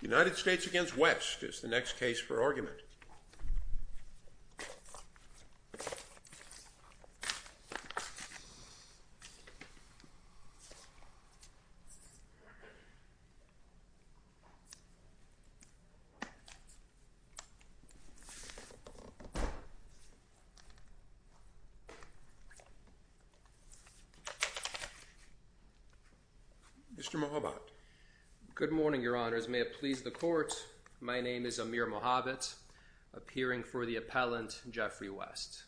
United States v. West is the next case for argument. Mr. Mohabat. Good morning, your honors. May it please the court. My name is Amir Mohabat appearing for the appellant Jeffrey West.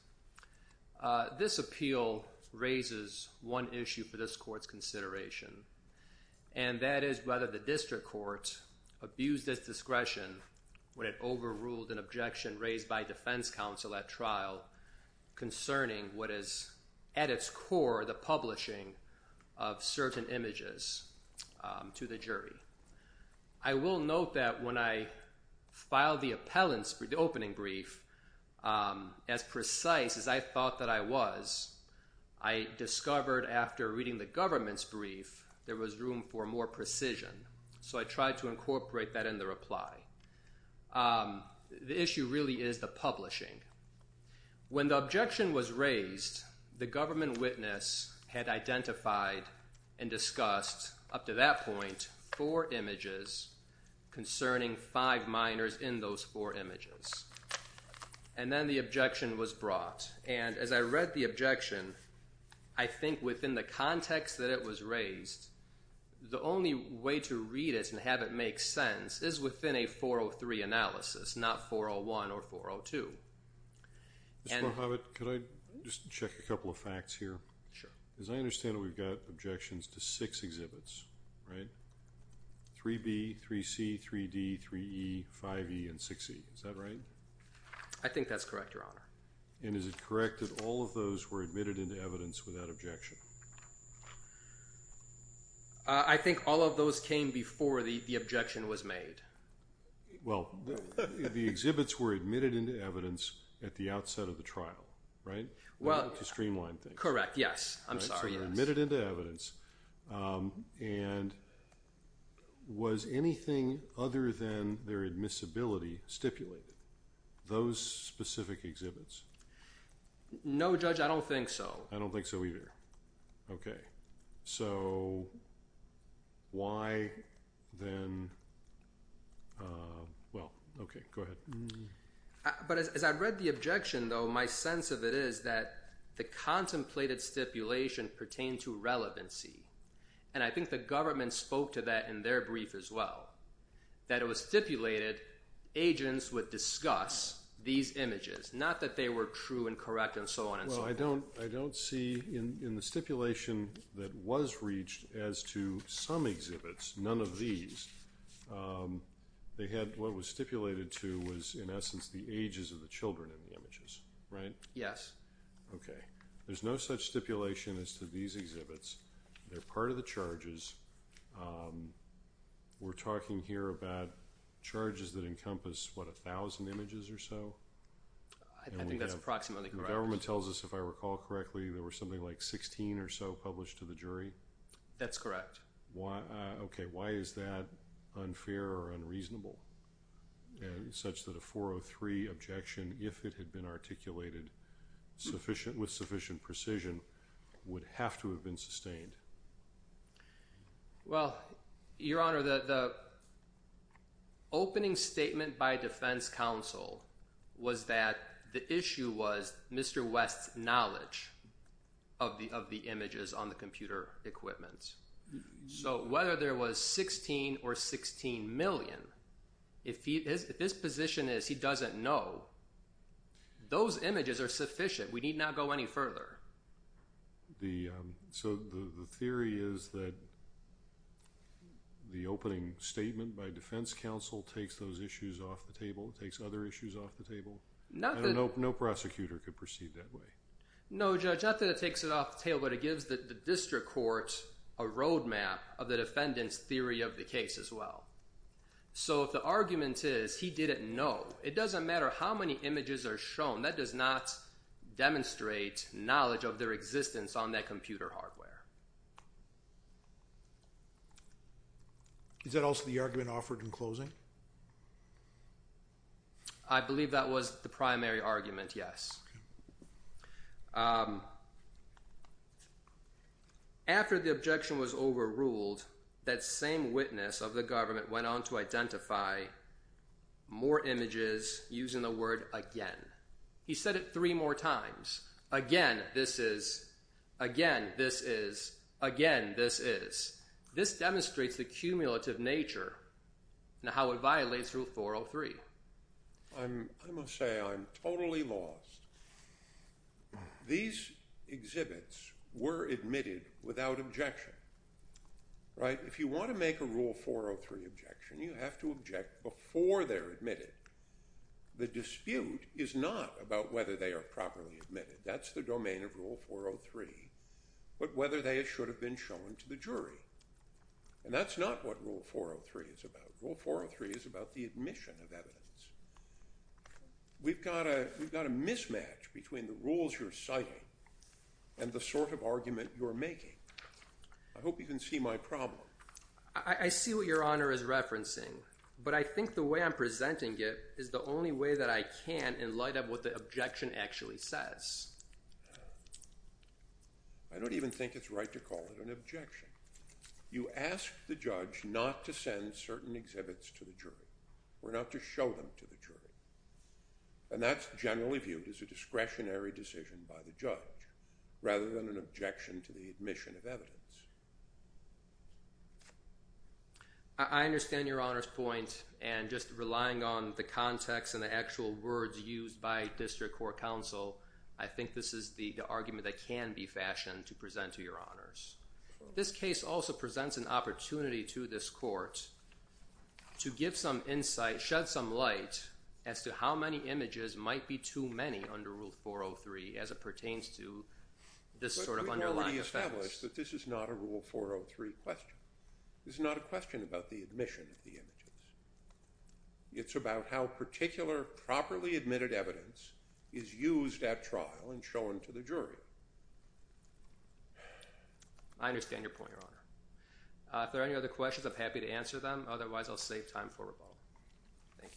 This appeal raises one issue for this court's consideration, and that is whether the district court abused its discretion when it overruled an objection raised by defense counsel at trial concerning what is at its core the publishing of certain images to the jury. I will note that when I filed the appellant's opening brief, as precise as I thought that I was, I discovered after reading the government's brief there was room for more precision. So I tried to incorporate that in the reply. The issue really is the publishing. When the objection was raised, the government witness had identified and discussed up to that point four images concerning five minors in those four images. And then the objection was brought. And as I read the objection, I think within the context that it was raised, the only way to read it and have it make sense is within a 403 analysis, not 401 or 402. Mr. Mohabat, could I just check a couple of facts here? Sure. As I understand it, we've got objections to six exhibits, right? 3B, 3C, 3D, 3E, 5E, and 6E. Is that right? I think that's correct, your honor. And is it correct that all of those were admitted into evidence without objection? I think all of those came before the objection was made. Well, the exhibits were admitted into evidence at the outset of the trial, right, to streamline things. Correct. Yes. I'm sorry, yes. So they were admitted into evidence. And was anything other than their admissibility stipulated? Those specific exhibits? No, Judge, I don't think so. I don't think so either. Okay. So why then, well, okay, go ahead. But as I read the objection, though, my sense of it is that the contemplated stipulation pertained to relevancy. And I think the government spoke to that in their brief as well, that it was stipulated agents would discuss these images, not that they were true and correct and so on and so forth. Well, I don't see in the stipulation that was reached as to some exhibits, none of these, they had what was stipulated to was, in essence, the ages of the children in the images, right? Yes. Okay. There's no such stipulation as to these exhibits. They're part of the charges. We're talking here about charges that encompass, what, 1,000 images or so? I think that's approximately correct. The government tells us, if I recall correctly, there were something like 16 or so published to the jury? That's correct. Okay. Why is that unfair or unreasonable such that a 403 objection, if it had been articulated with sufficient precision, would have to have been sustained? Well, Your Honor, the opening statement by defense counsel was that the issue was Mr. West's knowledge of the images on the computer equipment. So whether there was 16 or 16 million, if his position is he doesn't know, those images are sufficient. We need not go any further. So the theory is that the opening statement by defense counsel takes those issues off the table, takes other issues off the table? No prosecutor could proceed that way? No judge, not that it takes it off the table, but it gives the district court a roadmap of the defendant's theory of the case as well. So if the argument is he didn't know, it doesn't matter how many images are shown, that does not demonstrate knowledge of their existence on that computer hardware. Is that also the argument offered in closing? I believe that was the primary argument, yes. After the objection was overruled, that same witness of the government went on to identify more images using the word, again. He said it three more times, again, this is, again, this is, again, this is. This demonstrates the cumulative nature and how it violates Rule 403. I must say I'm totally lost. These exhibits were admitted without objection, right? If you want to make a Rule 403 objection, you have to object before they're admitted. The dispute is not about whether they are properly admitted. That's the domain of Rule 403, but whether they should have been shown to the jury. And that's not what Rule 403 is about. Rule 403 is about the admission of evidence. We've got a mismatch between the rules you're citing and the sort of argument you're making. I hope you can see my problem. I see what Your Honor is referencing, but I think the way I'm presenting it is the only way that I can in light of what the objection actually says. I don't even think it's right to call it an objection. You ask the judge not to send certain exhibits to the jury or not to show them to the jury. And that's generally viewed as a discretionary decision by the judge rather than an objection to the admission of evidence. I understand Your Honor's point. And just relying on the context and the actual words used by district court counsel, I think this is the argument that can be fashioned to present to Your Honors. This case also presents an opportunity to this court to give some insight, shed some light as to how many images might be too many under Rule 403 as it pertains to this sort of underlying offense. I'm going to be honest that this is not a Rule 403 question. This is not a question about the admission of the images. It's about how particular, properly admitted evidence is used at trial and shown to the I understand your point, Your Honor. If there are any other questions, I'm happy to answer them, otherwise I'll save time for rebuttal. Thank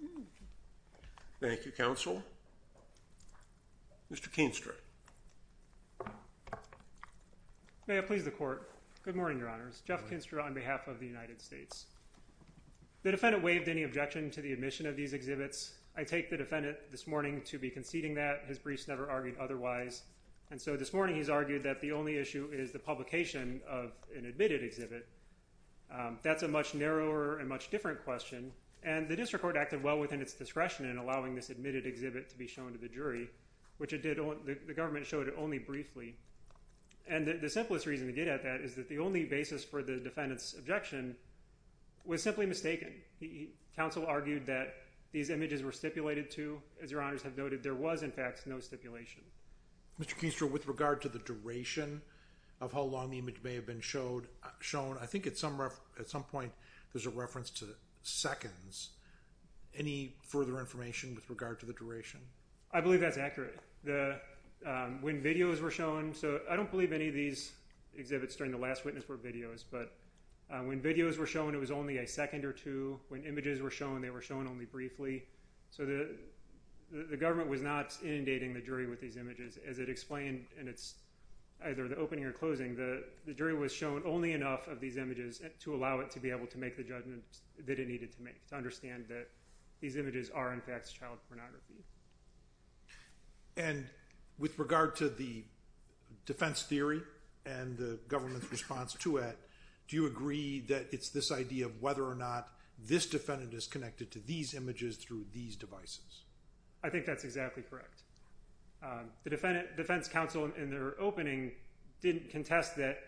you. Thank you, counsel. Mr. Keenstra. May it please the court. Good morning, Your Honors. Jeff Keenstra on behalf of the United States. The defendant waived any objection to the admission of these exhibits. I take the defendant this morning to be conceding that. His briefs never argued otherwise. And so this morning, he's argued that the only issue is the publication of an admitted exhibit. That's a much narrower and much different question. And the district court acted well within its discretion in allowing this admitted exhibit to be shown to the jury, which it did. The government showed it only briefly. And the simplest reason to get at that is that the only basis for the defendant's objection was simply mistaken. Counsel argued that these images were stipulated to, as Your Honors have noted, there was in fact no stipulation. Mr. Keenstra, with regard to the duration of how long the image may have been shown, I think at some point there's a reference to seconds. Any further information with regard to the duration? I believe that's accurate. When videos were shown, so I don't believe any of these exhibits during the last witness were videos. But when videos were shown, it was only a second or two. When images were shown, they were shown only briefly. So the government was not inundating the jury with these images. As it explained in either the opening or closing, the jury was shown only enough of these images to allow it to be able to make the judgment that it needed to make, to understand that these images are in fact child pornography. And with regard to the defense theory and the government's response to it, do you agree that it's this idea of whether or not this defendant is connected to these images through these devices? I think that's exactly correct. The defense counsel in their opening didn't contest that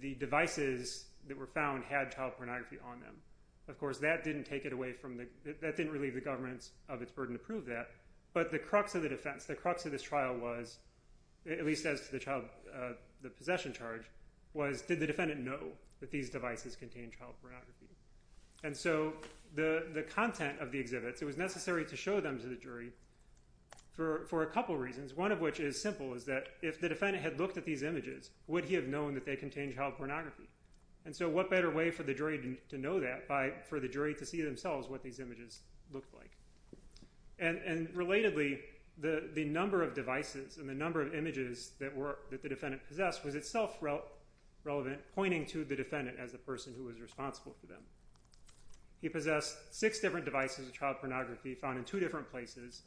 the devices that were found had child pornography on them. Of course, that didn't take it away from the, that didn't relieve the government of its burden to prove that. But the crux of the defense, the crux of this trial was, at least as to the possession charge, was did the defendant know that these devices contained child pornography? And so the content of the exhibits, it was necessary to show them to the jury for a couple reasons, one of which is simple, is that if the defendant had looked at these images, would he have known that they contained child pornography? And so what better way for the jury to know that by, for the jury to see themselves what these images looked like? And relatedly, the number of devices and the number of images that the defendant possessed was itself relevant, pointing to the defendant as the person who was responsible for them. He possessed six different devices of child pornography found in two different places.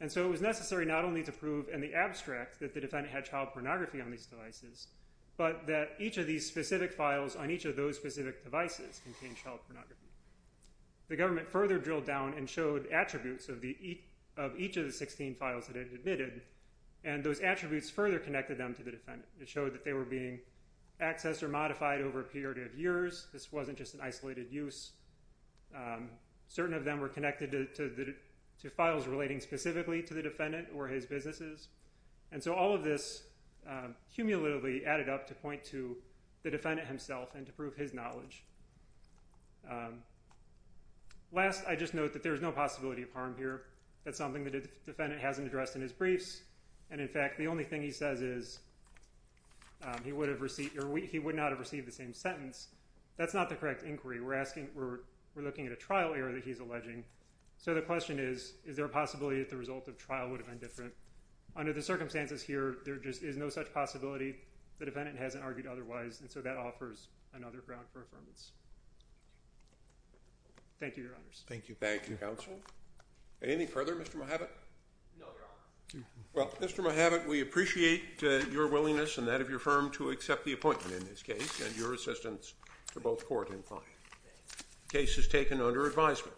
And so it was necessary not only to prove in the abstract that the defendant had child pornography, but that the files on each of those specific devices contained child pornography. The government further drilled down and showed attributes of the, of each of the 16 files that it admitted. And those attributes further connected them to the defendant. It showed that they were being accessed or modified over a period of years. This wasn't just an isolated use. Certain of them were connected to the, to files relating specifically to the defendant or his businesses. And so all of this cumulatively added up to point to the defendant himself and to prove his knowledge. Last, I just note that there is no possibility of harm here. That's something that the defendant hasn't addressed in his briefs. And in fact, the only thing he says is he would have received, or he would not have received the same sentence. That's not the correct inquiry. We're asking, we're looking at a trial error that he's alleging. So the question is, is there a possibility that the result of trial would have been different? Under the circumstances here, there just is no such possibility. The defendant hasn't argued otherwise. And so that offers another ground for affirmance. Thank you, Your Honors. Thank you. Thank you, Counsel. Anything further, Mr. Mojavet? No, Your Honor. Well, Mr. Mojavet, we appreciate your willingness and that of your firm to accept the appointment in this case and your assistance to both court and client. The case is taken under advisement. Thank you.